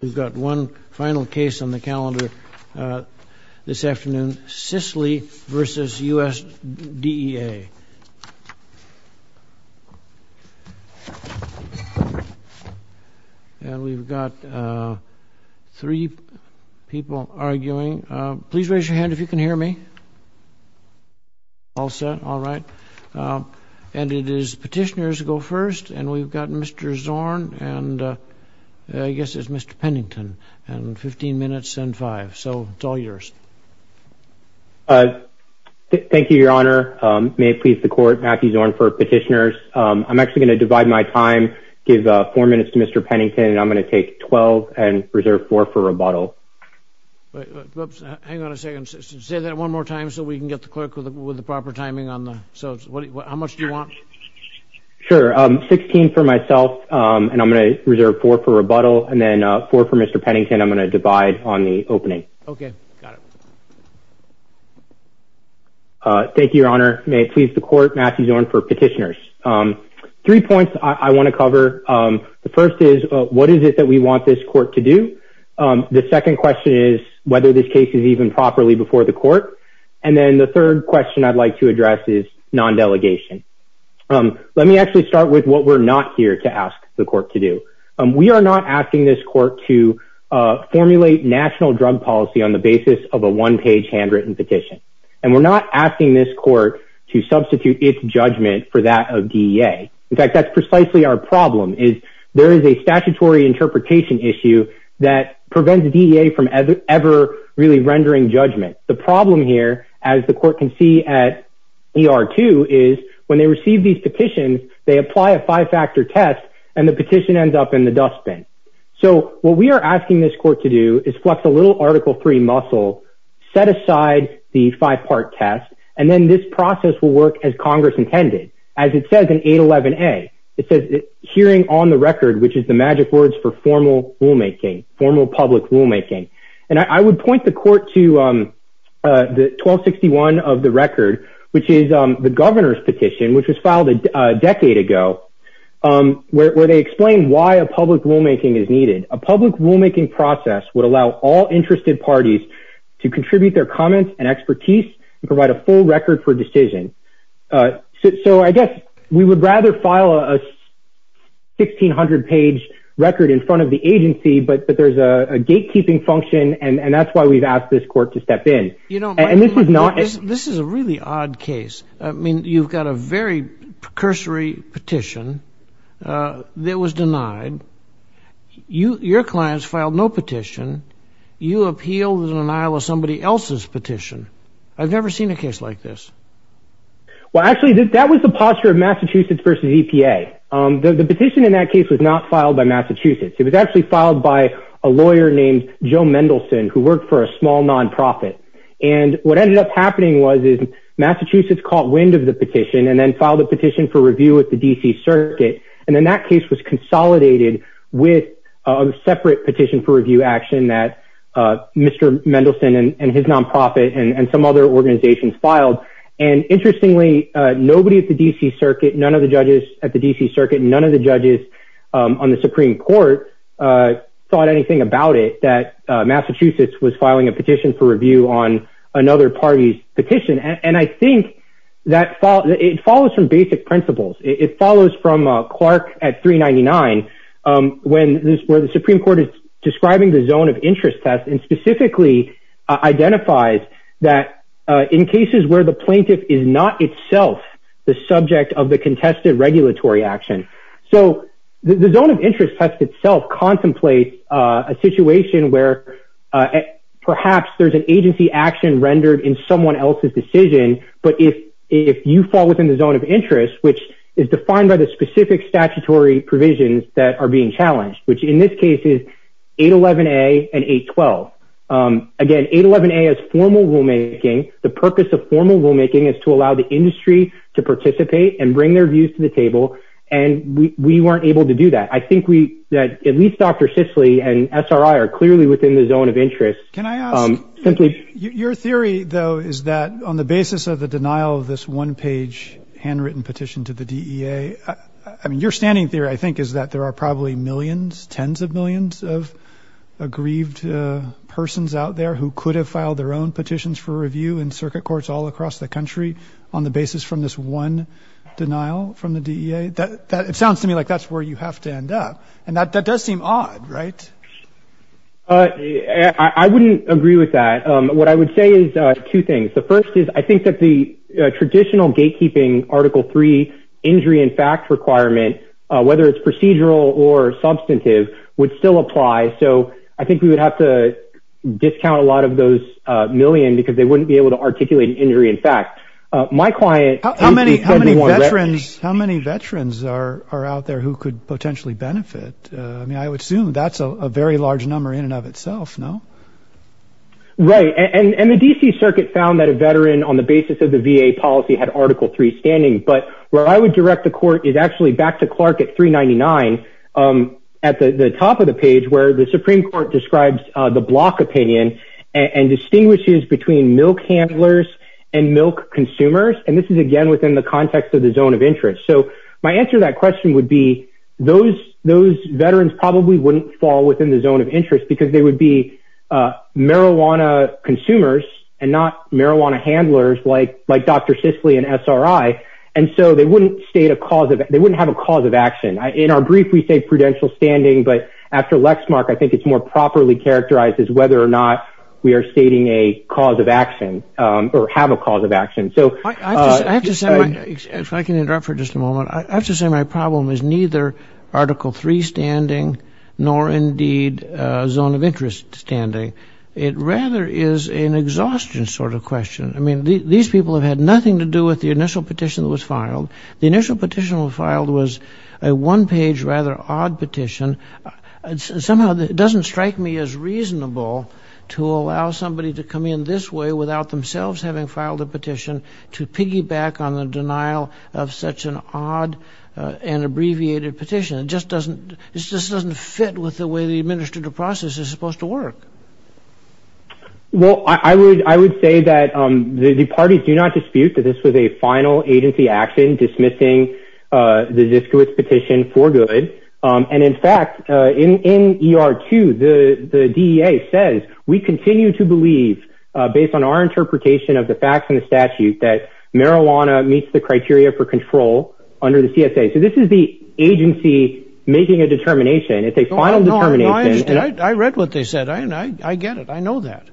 We've got one final case on the calendar this afternoon, Sisley v. USDEA. And we've got three people arguing. Please raise your hand if you can hear me. All set, all right. And it is petitioners go first. And we've got Mr. Zorn and I guess it's Mr. Pennington. And 15 minutes and five. So it's all yours. Thank you, Your Honor. May it please the court, Matthew Zorn for petitioners. I'm actually going to divide my time, give four minutes to Mr. Pennington, and I'm going to take 12 and reserve four for rebuttal. Hang on a second. Say that one more time so we can get the clerk with the proper timing on the. So how much do you want? Sure, 16 for myself and I'm going to reserve four for rebuttal and then four for Mr. Pennington. I'm going to divide on the opening. OK, got it. Thank you, Your Honor. May it please the court, Matthew Zorn for petitioners. Three points I want to cover. The first is, what is it that we want this court to do? The second question is whether this case is even properly before the court. And then the third question I'd like to address is non-delegation. Let me actually start with what we're not here to ask the court to do. We are not asking this court to formulate national drug policy on the basis of a one-page handwritten petition. And we're not asking this court to substitute its judgment for that of DEA. In fact, that's precisely our problem, is there is a statutory interpretation issue that prevents DEA from ever really rendering judgment. The problem here, as the court can see at ER-2, is when they receive these petitions, they apply a five-factor test and the petition ends up in the dustbin. So what we are asking this court to do is flex a little Article III muscle, set aside the five-part test, and then this process will work as Congress intended. As it says in 811A, it says, hearing on the record, which is the magic words for formal rulemaking, formal public rulemaking. And I would point the court to 1261 of the record, which is the governor's petition, which was filed a decade ago, where they explain why a public rulemaking is needed. A public rulemaking process would allow all interested parties to contribute their comments and expertise and provide a full record for decision. So I guess we would rather file a 1,600-page record in front of the agency, but there's a gatekeeping function, and that's why we've asked this court to step in. And this is not a- This is a really odd case. I mean, you've got a very precursory petition that was denied. Your clients filed no petition. You appeal the denial of somebody else's petition. I've never seen a case like this. Well, actually, that was the posture of Massachusetts versus EPA. The petition in that case was not filed by Massachusetts. It was actually filed by a lawyer named Joe Mendelson, who worked for a small nonprofit. And what ended up happening was Massachusetts caught wind of the petition and then filed a petition for review at the DC Circuit, and then that case was consolidated with a separate petition for review action that Mr. Mendelson and his nonprofit and some other organizations filed. I've never thought anything about it that Massachusetts was filing a petition for review on another party's petition. And I think that it follows from basic principles. It follows from Clark at 399, where the Supreme Court is describing the zone of interest test and specifically identifies that in cases where the plaintiff is not itself the subject of the contested regulatory action. So the zone of interest test itself contemplates a situation where perhaps there's an agency action rendered in someone else's decision. But if you fall within the zone of interest, which is defined by the specific statutory provisions that are being challenged, which in this case is 811A and 812. Again, 811A is formal rulemaking. The purpose of formal rulemaking is to allow the industry to participate and bring their views to the table. And we weren't able to do that. I think that at least Dr. Sisley and SRI are clearly within the zone of interest. Can I ask, your theory, though, is that on the basis of the denial of this one-page handwritten petition to the DEA, I mean, your standing theory, I think, is that there are probably millions, tens of millions of aggrieved persons out there who could have filed their own petitions for review in circuit courts all across the country on the basis from this one denial from the DEA? It sounds to me like that's where you have to end up. And that does seem odd, right? I wouldn't agree with that. What I would say is two things. The first is I think that the traditional gatekeeping Article III injury in fact requirement, whether it's procedural or substantive, would still apply. So I think we would have to discount a lot of those million because they wouldn't be able to articulate an injury in fact. My client... How many veterans are out there who could potentially benefit? I mean, I would assume that's a very large number in and of itself, no? Right. And the DC Circuit found that a veteran on the basis of the VA policy had Article III standing. But where I would direct the court is actually back to Clark at 399 at the top of the page, where the Supreme Court describes the block opinion and distinguishes between milk handlers and milk consumers. And this is, again, within the context of the zone of interest. So my answer to that question would be those veterans probably wouldn't fall within the zone of interest because they would be marijuana consumers and not marijuana handlers like Dr. Sisley and SRI. And so they wouldn't have a cause of action. In our brief, we say prudential standing. But after Lexmark, I think it's more properly characterized as whether or not we are stating a cause of action or have a cause of action. So... I have to say, if I can interrupt for just a moment, I have to say my problem is neither Article III standing nor indeed a zone of interest standing. It rather is an exhaustion sort of question. I mean, these people have had nothing to do with the initial petition that was filed. The initial petition that was filed was a one-page rather odd petition. Somehow, it doesn't strike me as reasonable to allow somebody to come in this way without themselves having filed a petition to piggyback on the denial of such an odd and abbreviated petition. It just doesn't fit with the way the administrative process is supposed to work. Well, I would say that the parties do not dispute that this was a final agency action dismissing the Ziskowitz petition for good. And in fact, in ER 2, the DEA says, we continue to believe, based on our interpretation of the facts and the statute, that marijuana meets the criteria for control under the CSA. So this is the agency making a determination. It's a final determination. I read what they said. I get it. I know that.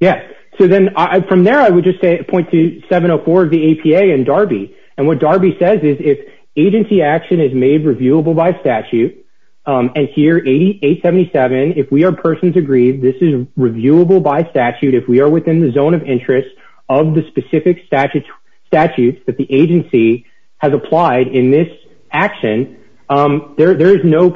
Yeah. So then, from there, I would just say, point to 704 of the APA and Darby. And what Darby says is, if agency action is made reviewable by statute, and here, 877, if we are persons aggrieved, this is reviewable by statute. If we are within the zone of interest of the specific statutes that the agency has applied in this action, there is no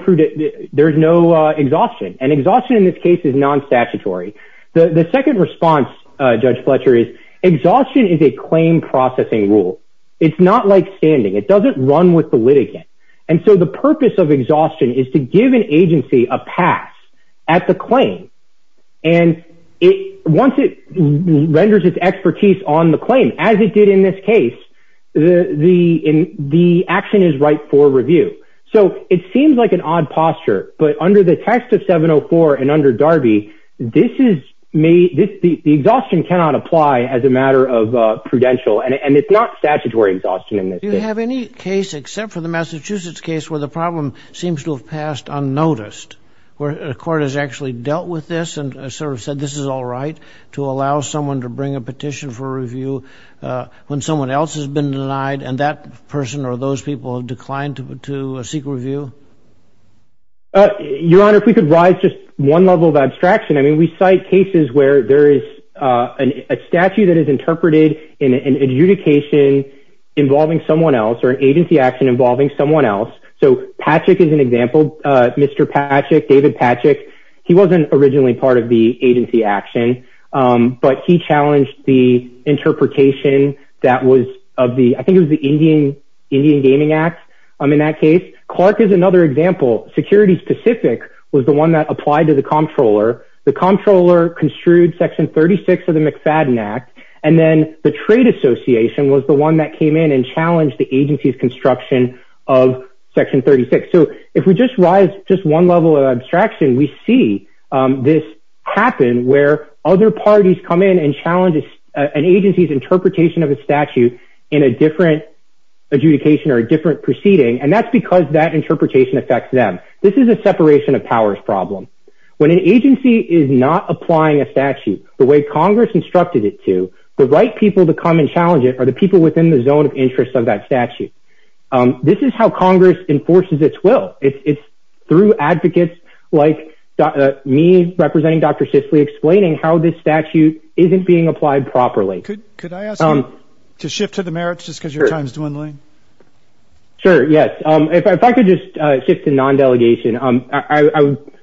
exhaustion. And exhaustion, in this case, is non-statutory. The second response, Judge Fletcher, is exhaustion is a claim processing rule. It's not like standing. It doesn't run with the litigant. And so the purpose of exhaustion is to give an agency a pass at the claim. And once it renders its expertise on the claim, as it did in this case, the action is right for review. So it seems like an odd posture. But under the text of 704 and under Darby, this is made, the exhaustion cannot apply as a matter of prudential. And it's not statutory exhaustion in this case. Do you have any case, except for the Massachusetts case, where the problem seems to have passed unnoticed, where a court has actually dealt with this and sort of said, this is all right to allow someone to bring a petition for review when someone else has been denied, and that person or those people have declined to seek review? Your Honor, if we could rise just one level of abstraction. I mean, we cite cases where there is a statute that is interpreted in an adjudication involving someone else or an agency action involving someone else. So Patrick is an example. Mr. Patrick, David Patrick, he wasn't originally part of the agency action. But he challenged the interpretation that was of the, I think it was the Indian Gaming Act in that case. Clark is another example. Security specific was the one that applied to the comptroller. The comptroller construed Section 36 of the McFadden Act. And then the trade association was the one that came in and challenged the agency's construction of Section 36. So if we just rise just one level of abstraction, we see this happen where other parties come in and challenge an agency's interpretation of a statute in a different adjudication or a different proceeding. And that's because that interpretation affects them. This is a separation of powers problem. When an agency is not applying a statute the way Congress instructed it to, the right people to come and challenge it are the people within the zone of interest of that statute. This is how Congress enforces its will. It's through advocates like me, representing Dr. Sisley, explaining how this statute isn't being applied properly. Could I ask you to shift to the merits just because your time is dwindling? Sure, yes. If I could just shift to non-delegation.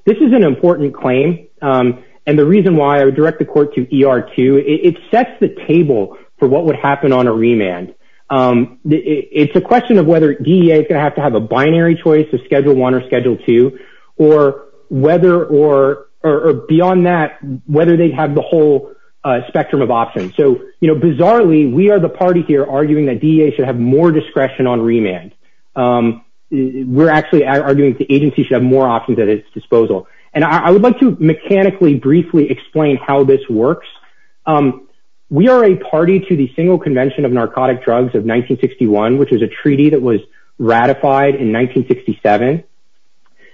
This is an important claim. And the reason why I would direct the court to ER2, it sets the table for what would happen on a remand. It's a question of whether DEA is going to have to have a binary choice of Schedule 1 or Schedule 2, or beyond that, whether they have the whole spectrum of options. So bizarrely, we are the party here arguing that DEA should have more discretion on remand. We're actually arguing that the agency should have more options at its disposal. And I would like to mechanically, briefly explain how this works. We are a party to the Single Convention of Narcotic Drugs of 1961, which was a treaty that was ratified in 1967.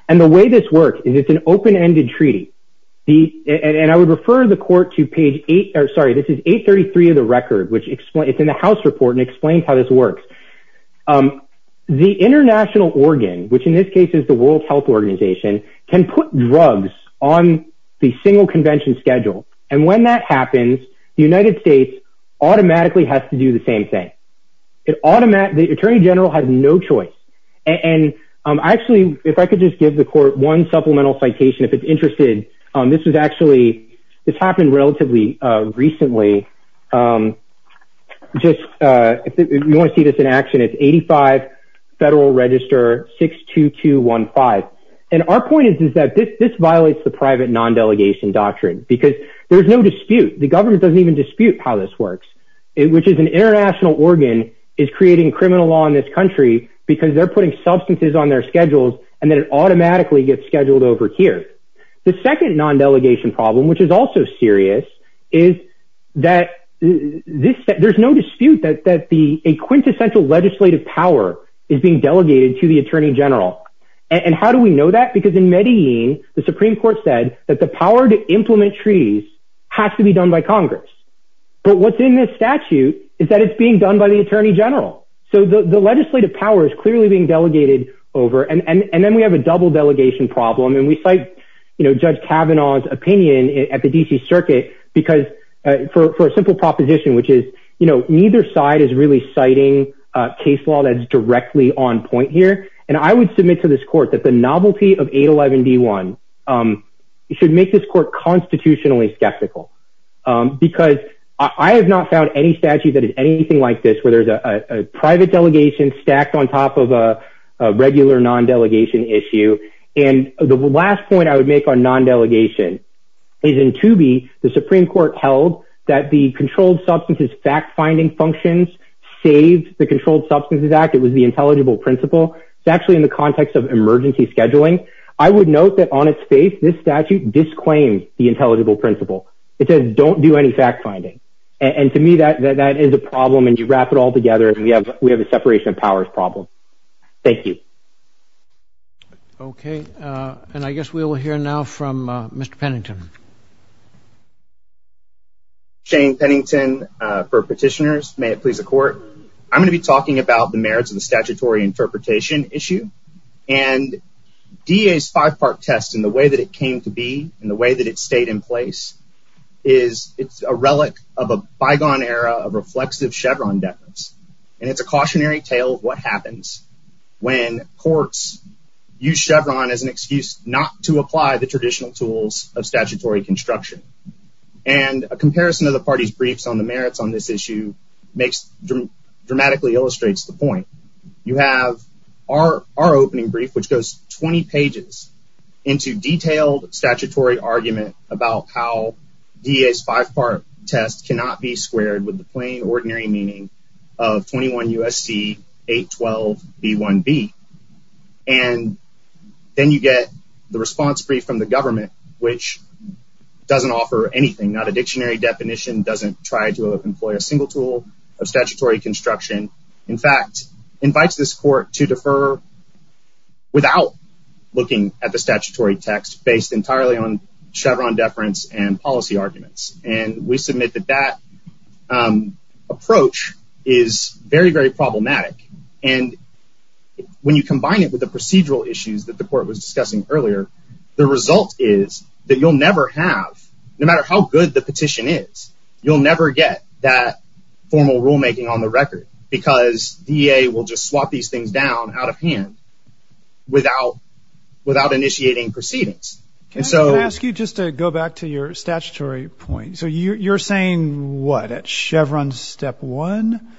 And the way this works is it's an open-ended treaty. And I would refer the court to page 833 of the record, which is in the House report, and explains how this works. The international organ, which in this case is the World Health Organization, can put drugs on the single convention schedule. And when that happens, the United States automatically has to do the same thing. The Attorney General has no choice. And actually, if I could just give the court one supplemental citation, if it's interested. This was actually, this happened relatively recently. If you want to see this in action, it's 85 Federal Register 62215. And our point is that this violates the private non-delegation doctrine. Because there's no dispute. The government doesn't even dispute how this works. Which is an international organ is creating criminal law in this country because they're putting substances on their schedules, and then it automatically gets scheduled over here. The second non-delegation problem, which is also serious, is that there's no dispute that a quintessential legislative power is being delegated to the Attorney General. And how do we know that? Because in Medellin, the Supreme Court said that the power to implement treaties has to be done by Congress. But what's in this statute is that it's being done by the Attorney General. So the legislative power is clearly being delegated over. And then we have a double delegation problem. And we cite Judge Kavanaugh's opinion at the DC Circuit because for a simple proposition, which is neither side is really citing a case law that is directly on point here. And I would submit to this court that the novelty of 811 D1 should make this court constitutionally skeptical. Because I have not found any statute that is anything like this, where there's a private delegation stacked on top of a regular non-delegation issue. And the last point I would make on non-delegation is in Toobie, the Supreme Court held that the Controlled Substances Fact Finding functions saved the Controlled Substances Act. It was the intelligible principle. It's actually in the context of emergency scheduling. I would note that on its face, this statute disclaims the intelligible principle. It says, don't do any fact finding. And to me, that is a problem. And you wrap it all together, and we have a separation of powers problem. Thank you. OK. And I guess we will hear now from Mr. Pennington. Shane Pennington for petitioners. May it please the court. I'm going to be talking about the merits of the statutory interpretation issue. And DEA's five part test in the way that it came to be, in the way that it stayed in place, is a relic of a bygone era of reflexive Chevron deference. And it's a cautionary tale of what happens when courts use Chevron as an excuse not to apply the traditional tools of statutory construction. And a comparison of the party's briefs on the merits on this issue dramatically illustrates the point. You have our opening brief, which goes 20 pages into detailed statutory argument about how DEA's five part test cannot be squared with the plain, ordinary meaning of 21 USC 812B1B. And then you get the response brief from the government, which doesn't offer anything, not a dictionary definition, doesn't try to employ a single tool of statutory construction. In fact, invites this court to defer without looking at the statutory text based entirely on Chevron deference and policy arguments. And we submit that that approach is very, very problematic. And when you combine it with the procedural issues that the court was discussing earlier, the result is that you'll never have, no matter how good the petition is, you'll never get that formal rulemaking on the record. Because DEA will just swap these things down out of hand without initiating proceedings. Can I ask you just to go back to your statutory point? So you're saying what, at Chevron step one,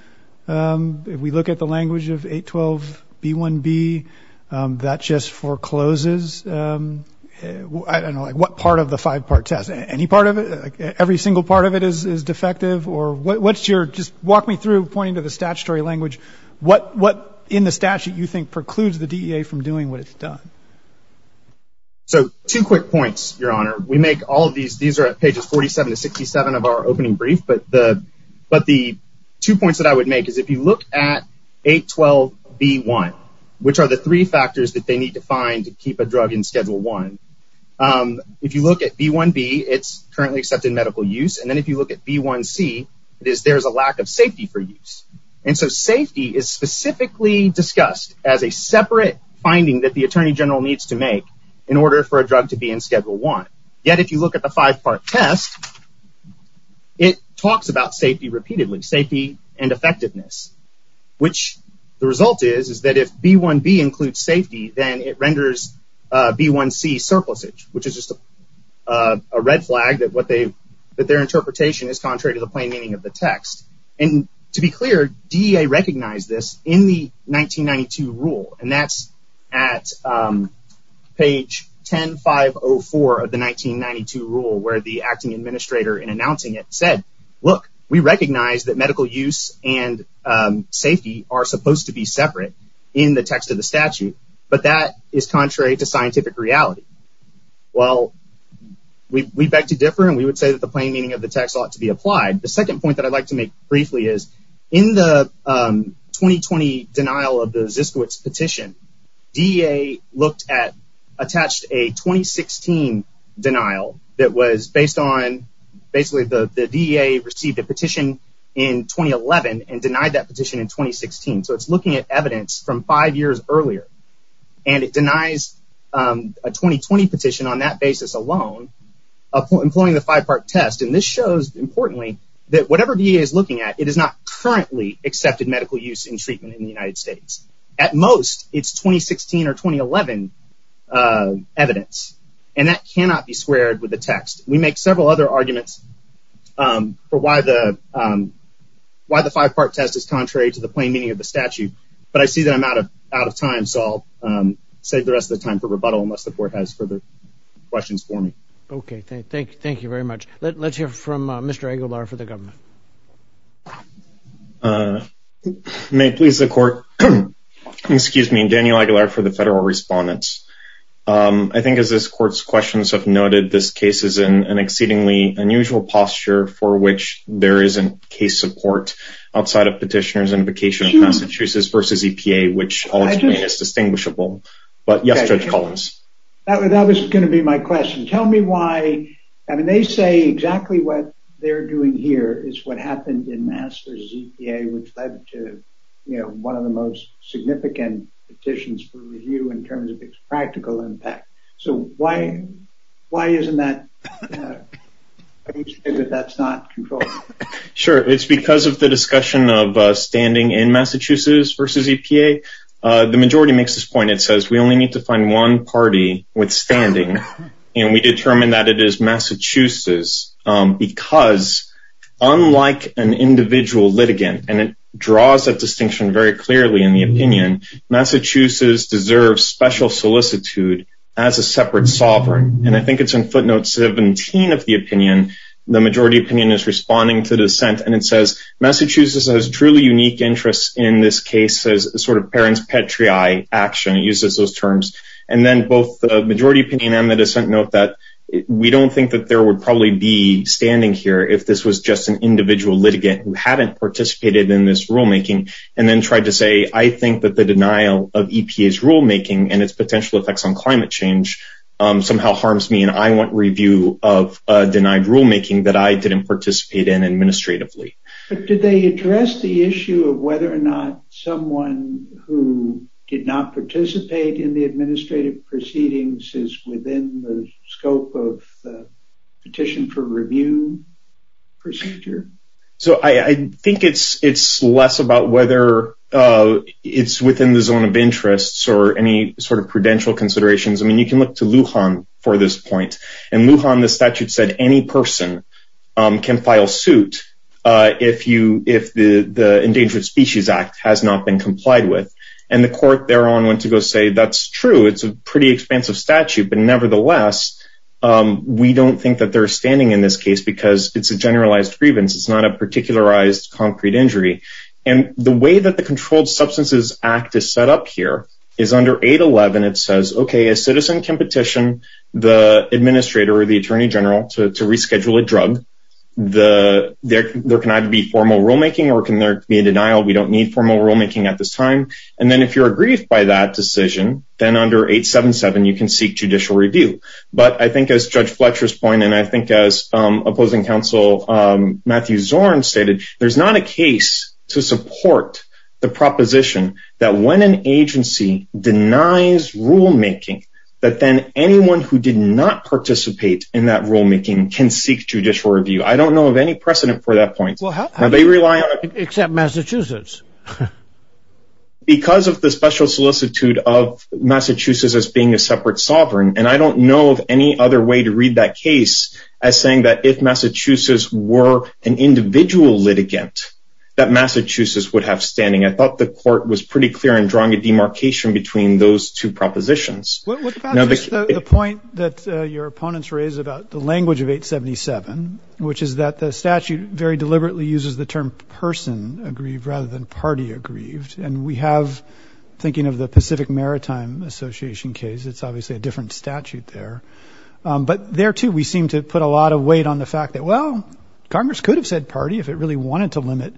if we look at the language of 812B1B, that just forecloses? I don't know, like what part of the five part test? Any part of it? Every single part of it is defective? Or what's your, just walk me through, pointing to the statutory language, what in the statute you think precludes the DEA from doing what it's done? So two quick points, Your Honor. We make all of these, these are at pages 47 to 67 of our opening brief. But the two points that I would make is if you look at 812B1, which are the three factors that they need to find to keep a drug in schedule one. If you look at B1B, it's currently accepted medical use. And then if you look at B1C, it is there's a lack of safety for use. And so safety is specifically discussed as a separate finding that the Attorney General needs to make in order for a drug to be in schedule one. Yet if you look at the five part test, it talks about safety repeatedly, safety and effectiveness, which the result is, is that if B1B includes safety, then it renders B1C surplusage, which is just a red flag that what they, that their interpretation is contrary to the plain meaning of the text. And to be clear, DEA recognized this in the 1992 rule. And that's at page 10504 of the 1992 rule, where the acting administrator in announcing it said, look, we recognize that medical use and safety are supposed to be separate in the text of the statute, but that is contrary to scientific reality. Well, we beg to differ. And we would say that the plain meaning of the text ought to be applied. The second point that I'd like to make briefly is in the 2020 denial of the Ziskowitz petition, DEA looked at, attached a 2016 denial that was based on basically the DEA received a petition in 2011 and denied that petition in 2016. So it's looking at evidence from five years earlier. And it denies a 2020 petition on that basis alone employing the five part test. And this shows importantly that whatever DEA is looking at, it is not currently accepted medical use in treatment in the United States. At most, it's 2016 or 2011 evidence. And that cannot be squared with the text. We make several other arguments for why the five part test is contrary to the plain meaning of the statute. But I see that I'm out of time. So I'll save the rest of the time for rebuttal unless the court has further questions for me. OK, thank you very much. Let's hear from Mr. Aguilar for the government. May it please the court. Excuse me, Daniel Aguilar for the federal respondents. I think as this court's questions have noted, this case is in an exceedingly unusual posture for which there isn't case support outside of petitioners invocation of Massachusetts versus EPA, which I'll explain as distinguishable. But yes, Judge Collins. That was going to be my question. Tell me why. I mean, they say exactly what they're doing here is what happened in Mass versus EPA, which led to one of the most significant petitions for review in terms of its practical impact. So why isn't that, why do you say that that's not controlled? Sure, it's because of the discussion of standing in Massachusetts versus EPA. The majority makes this point. It says we only need to find one party withstanding. And we determined that it is Massachusetts because unlike an individual litigant, and it draws that distinction very clearly in the opinion, Massachusetts deserves special solicitude as a separate sovereign. And I think it's in footnotes 17 of the opinion, the majority opinion is responding to dissent. And it says Massachusetts has truly unique interests in this case as sort of parents' petri eye action. It uses those terms. And then both the majority opinion and the dissent note that we don't think that there would probably be standing here if this was just an individual litigant who hadn't participated in this rulemaking. And then tried to say, I think that the denial of EPA's rulemaking and its potential effects on climate change somehow harms me. And I want review of a denied rulemaking that I didn't participate in administratively. But did they address the issue of whether or not someone who did not participate in the administrative proceedings is within the scope of the petition for review procedure? So I think it's less about whether it's within the zone of interests or any sort of prudential considerations. I mean, you can look to Lujan for this point. In Lujan, the statute said any person can file suit if the Endangered Species Act has not been complied with. And the court thereon went to go say, that's true. It's a pretty expansive statute. But nevertheless, we don't think that they're standing in this case because it's a generalized grievance. It's not a particularized concrete injury. And the way that the Controlled Substances Act is set up here is under 811, it says, OK, a citizen can petition the administrator or the attorney general to reschedule a drug. There can either be formal rulemaking or can there be a denial. We don't need formal rulemaking at this time. And then if you're aggrieved by that decision, then under 877, you can seek judicial review. But I think as Judge Fletcher's point, and I think as opposing counsel Matthew Zorn stated, there's not a case to support the proposition that when an agency denies rulemaking, that then anyone who did not participate in that rulemaking can seek judicial review. I don't know of any precedent for that point. Well, how do you... Now, they rely on... Except Massachusetts. Because of the special solicitude of Massachusetts as being a separate sovereign, and I don't know of any other way to read that case as saying that if Massachusetts were an individual litigant, that Massachusetts would have standing. I thought the court was pretty clear in drawing a demarcation between those two propositions. What about just the point that your opponents raised about the language of 877, which is that the statute very deliberately uses the term person aggrieved rather than party aggrieved. And we have, thinking of the Pacific Maritime Association case, it's obviously a different statute there. But there too, we seem to put a lot of weight on the fact that, well, Congress could have said party if it really wanted to limit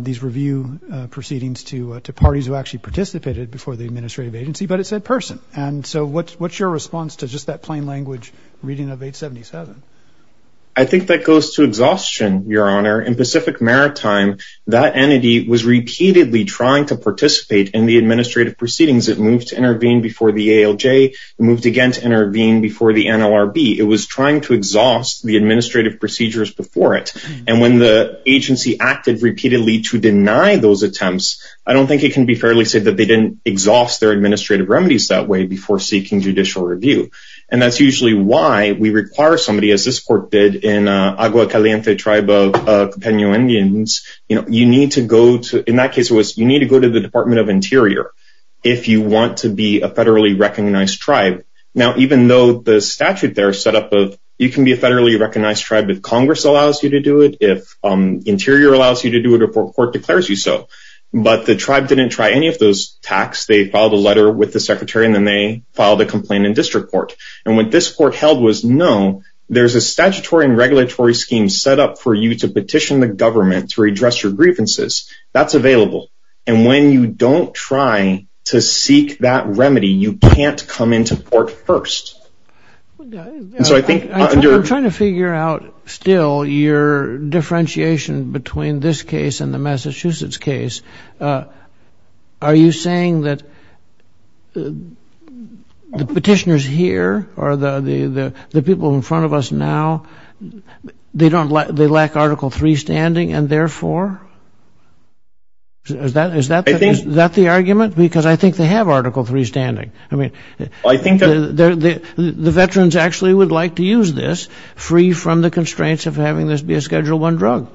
these review proceedings to parties who actually participated before the administrative agency, but it said person. And so what's your response to just that plain language reading of 877? I think that goes to exhaustion, Your Honor. In Pacific Maritime, that entity was repeatedly trying to participate in the administrative proceedings. It moved to intervene before the ALJ, moved again to intervene before the NLRB. It was trying to exhaust the administrative procedures before it. And when the agency acted repeatedly to deny those attempts, I don't think it can be fairly said that they didn't exhaust their administrative remedies that way before seeking judicial review. And that's usually why we require somebody, as this court did in Agua Caliente tribe of Peñuel Indians, you need to go to, in that case, it was you need to go to the Department of Interior if you want to be a federally recognized tribe. Now, even though the statute there is set up of, you can be a federally recognized tribe if Congress allows you to do it, if Interior allows you to do it or court declares you so. But the tribe didn't try any of those tacks. They filed a letter with the secretary and then they filed a complaint in district court. And what this court held was, no, there's a statutory and regulatory scheme set up for you to petition the government to redress your grievances. That's available. And when you don't try to seek that remedy, you can't come into court first. So I think- I'm trying to figure out still your differentiation between this case and the Massachusetts case. Are you saying that the petitioners here or the people in front of us now, they lack Article III standing and therefore? Is that the argument? Because I think they have Article III standing. I mean, the veterans actually would like to use this free from the constraints of having this be a Schedule I drug.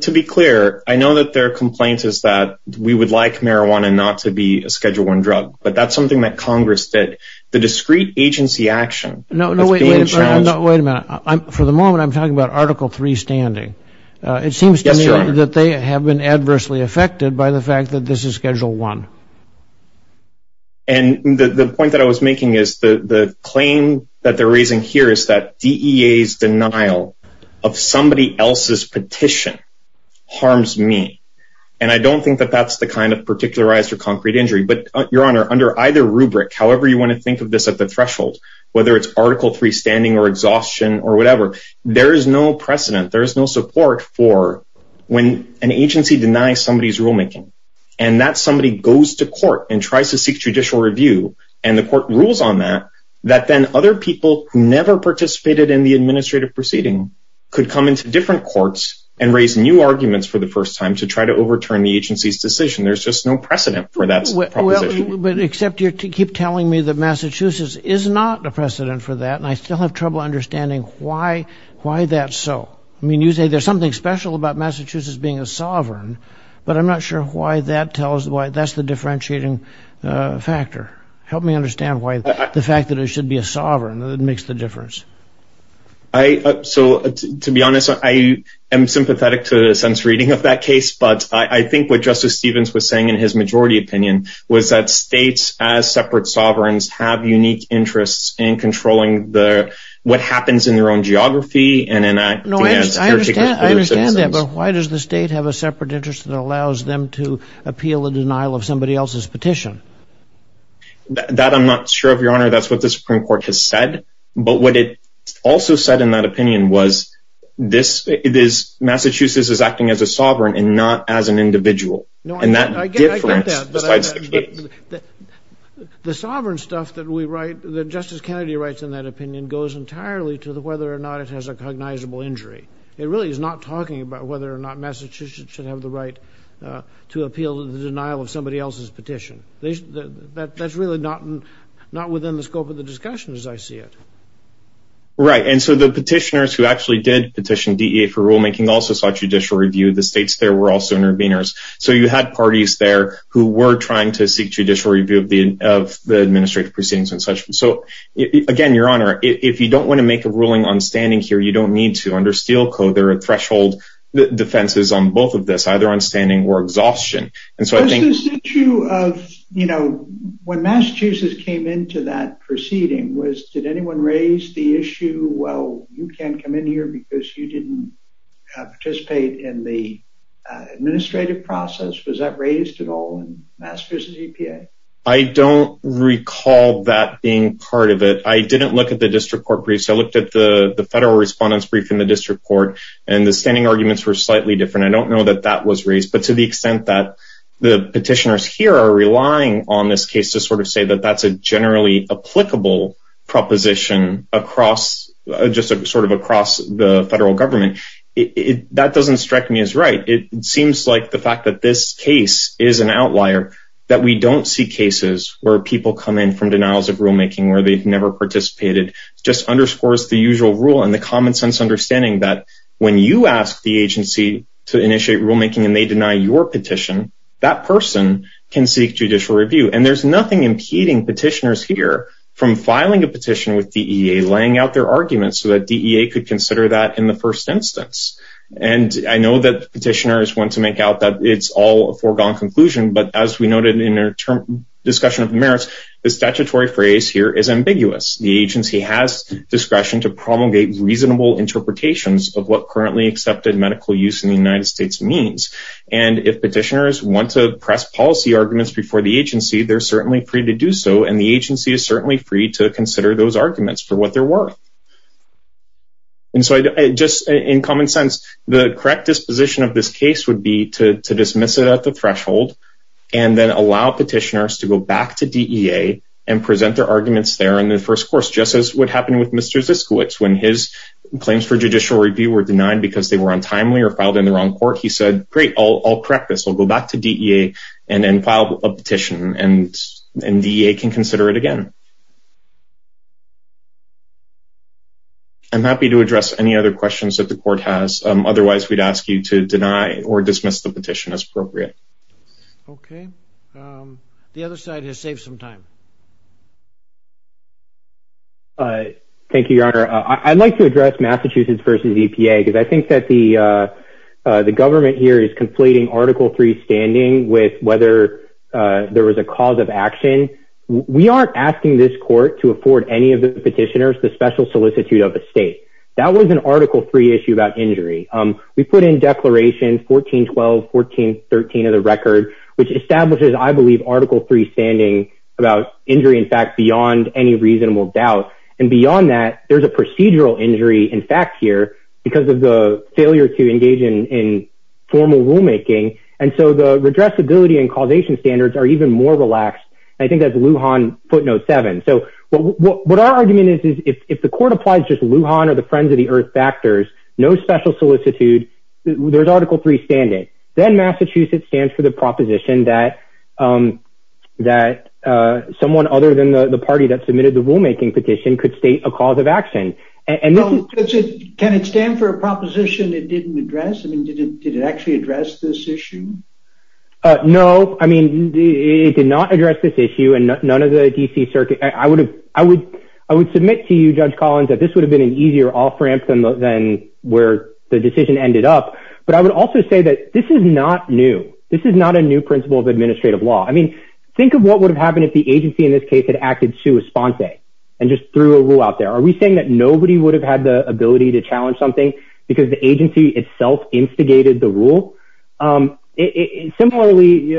To be clear, I know that there are complaints is that we would like marijuana not to be a Schedule I drug, but that's something that Congress did. The discrete agency action- No, no, wait a minute. For the moment, I'm talking about Article III standing. It seems to me that they have been adversely affected by the fact that this is Schedule I. And the point that I was making is the claim that they're raising here is that DEA's denial of somebody else's petition harms me. And I don't think that that's the kind of particularized or concrete injury, but Your Honor, under either rubric, however you want to think of this at the threshold, whether it's Article III standing or exhaustion or whatever, there is no precedent, there is no support for when an agency denies somebody's rulemaking and that somebody goes to court and tries to seek judicial review. And the court rules on that, that then other people never participated in the administrative proceeding, could come into different courts and raise new arguments for the first time to try to overturn the agency's decision. There's just no precedent for that proposition. But except you keep telling me that Massachusetts is not a precedent for that, and I still have trouble understanding why that's so. I mean, you say there's something special about Massachusetts being a sovereign, but I'm not sure why that tells, why that's the differentiating factor. Help me understand why the fact that it should be a sovereign makes the difference. So to be honest, I am sympathetic to the sense reading of that case, but I think what Justice Stevens was saying in his majority opinion was that states as separate sovereigns have unique interests in controlling what happens in their own geography and in their particular citizens. I understand that, but why does the state have a separate interest that allows them to appeal the denial of somebody else's petition? That I'm not sure of, Your Honor. That's what the Supreme Court has said. But what it also said in that opinion was Massachusetts is acting as a sovereign and not as an individual. And that difference decides the case. The sovereign stuff that Justice Kennedy writes in that opinion goes entirely to whether or not it has a cognizable injury. It really is not talking about whether or not Massachusetts should have the right to appeal the denial of somebody else's petition. That's really not within the scope of the discussion as I see it. Right, and so the petitioners who actually did petition DEA for rulemaking also sought judicial review. The states there were also interveners. So you had parties there who were trying to seek judicial review of the administrative proceedings and such. So again, Your Honor, if you don't wanna make a ruling on standing here, you don't need to. Under Steel Code, there are threshold defenses on both of this, either on standing or exhaustion. And so I think- You know, when Massachusetts came into that proceeding, was, did anyone raise the issue, well, you can't come in here because you didn't participate in the administrative process? Was that raised at all in Massachusetts EPA? I don't recall that being part of it. I didn't look at the district court briefs. I looked at the federal respondents' brief in the district court, and the standing arguments were slightly different. I don't know that that was raised. But to the extent that the petitioners here are relying on this case to sort of say that that's a generally applicable proposition across, just sort of across the federal government, that doesn't strike me as right. It seems like the fact that this case is an outlier, that we don't see cases where people come in from denials of rulemaking where they've never participated, just underscores the usual rule and the common sense understanding that when you ask the agency to initiate rulemaking and they deny your petition, that person can seek judicial review. And there's nothing impeding petitioners here from filing a petition with DEA, laying out their arguments so that DEA could consider that in the first instance. And I know that petitioners want to make out that it's all a foregone conclusion, but as we noted in our discussion of merits, the statutory phrase here is ambiguous. The agency has discretion to promulgate reasonable interpretations of what currently accepted medical use in the United States means. And if petitioners want to press policy arguments before the agency, they're certainly free to do so. And the agency is certainly free to consider those arguments for what they're worth. And so just in common sense, the correct disposition of this case would be to dismiss it at the threshold and then allow petitioners to go back to DEA and present their arguments there in the first course, just as what happened with Mr. Ziskiewicz when his claims for judicial review were denied because they were untimely or filed in the wrong court. He said, great, I'll correct this. I'll go back to DEA and then file a petition and DEA can consider it again. I'm happy to address any other questions that the court has. Otherwise, we'd ask you to deny or dismiss the petition as appropriate. Okay, the other side has saved some time. Thank you, Your Honor. I'd like to address Massachusetts versus EPA because I think that the government here is conflating Article III standing with whether there was a cause of action. We aren't asking this court to afford any of the petitioners the special solicitude of a state. That was an Article III issue about injury. We put in Declaration 1412, 1413 of the record, which establishes, I believe, Article III standing about injury, in fact, beyond any reasonable doubt. And beyond that, there's a procedural injury in fact here because of the failure to engage in formal rulemaking. And so the redressability and causation standards are even more relaxed. I think that's Lujan footnote seven. So what our argument is, is if the court applies just Lujan or the Friends of the Earth factors, no special solicitude, there's Article III standing. Then Massachusetts stands for the proposition that someone other than the party that submitted the rulemaking petition could state a cause of action. And this is- Can it stand for a proposition it didn't address? I mean, did it actually address this issue? No, I mean, it did not address this issue and none of the DC circuit. I would submit to you, Judge Collins, that this would have been an easier off ramp than where the decision ended up. But I would also say that this is not new. This is not a new principle of administrative law. I mean, think of what would have happened if the agency in this case had acted sua sponsae and just threw a rule out there. Are we saying that nobody would have had the ability to challenge something because the agency itself instigated the rule? Similarly,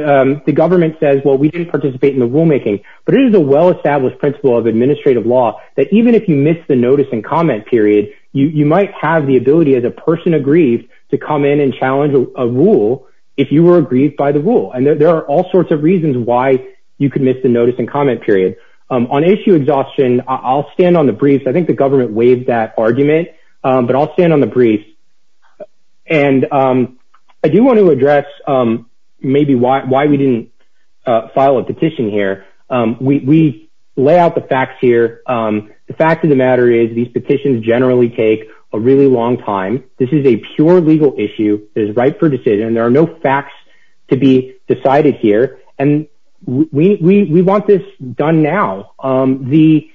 the government says, well, we didn't participate in the rulemaking, but it is a well-established principle of administrative law that even if you miss the notice and comment period, you might have the ability as a person aggrieved to come in and challenge a rule if you were aggrieved by the rule. And there are all sorts of reasons why you could miss the notice and comment period. On issue exhaustion, I'll stand on the brief because I think the government waived that argument, but I'll stand on the brief. And I do want to address maybe why we didn't file a petition here. We lay out the facts here. The fact of the matter is these petitions generally take a really long time. This is a pure legal issue. It is right for decision. There are no facts to be decided here. And we want this done now. The,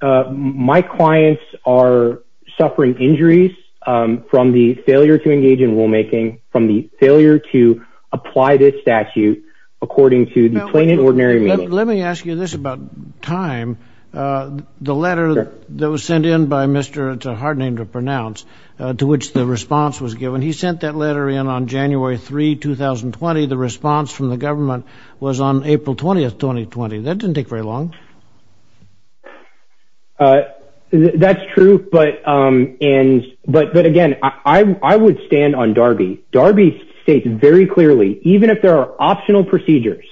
my clients are suffering injuries from the failure to engage in rulemaking, from the failure to apply this statute according to the plain and ordinary meaning. Let me ask you this about time. The letter that was sent in by Mr., it's a hard name to pronounce, to which the response was given. He sent that letter in on January 3, 2020. The response from the government was on April 20th, 2020. That didn't take very long. That's true, but again, I would stand on Darby. Darby states very clearly, even if there are optional procedures,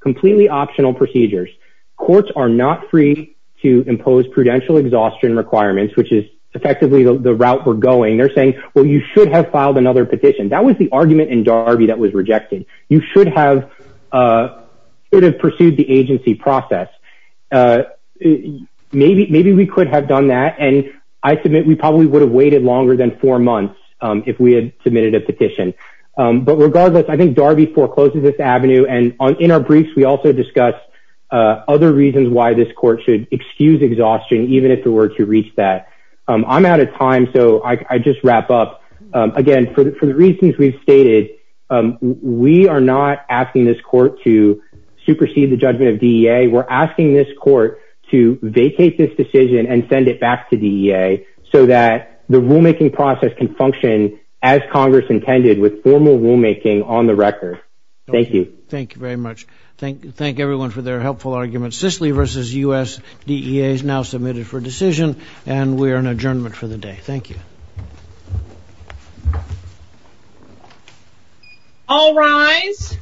completely optional procedures, courts are not free to impose prudential exhaustion requirements, which is effectively the route we're going. They're saying, well, you should have filed another petition. That was the argument in Darby that was rejected. You should have pursued the agency process. Maybe we could have done that. And I submit we probably would have waited longer than four months if we had submitted a petition. But regardless, I think Darby forecloses this avenue. And in our briefs, we also discuss other reasons why this court should excuse exhaustion, even if it were to reach that. I'm out of time, so I just wrap up. Again, for the reasons we've stated, we are not asking this court to supersede the judgment of DEA. We're asking this court to vacate this decision and send it back to DEA so that the rulemaking process can function as Congress intended with formal rulemaking on the record. Thank you. Thank you very much. Thank everyone for their helpful arguments. Cicely versus U.S. DEA is now submitted for decision and we are in adjournment for the day. Thank you. All rise.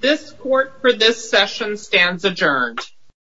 This court for this session stands adjourned.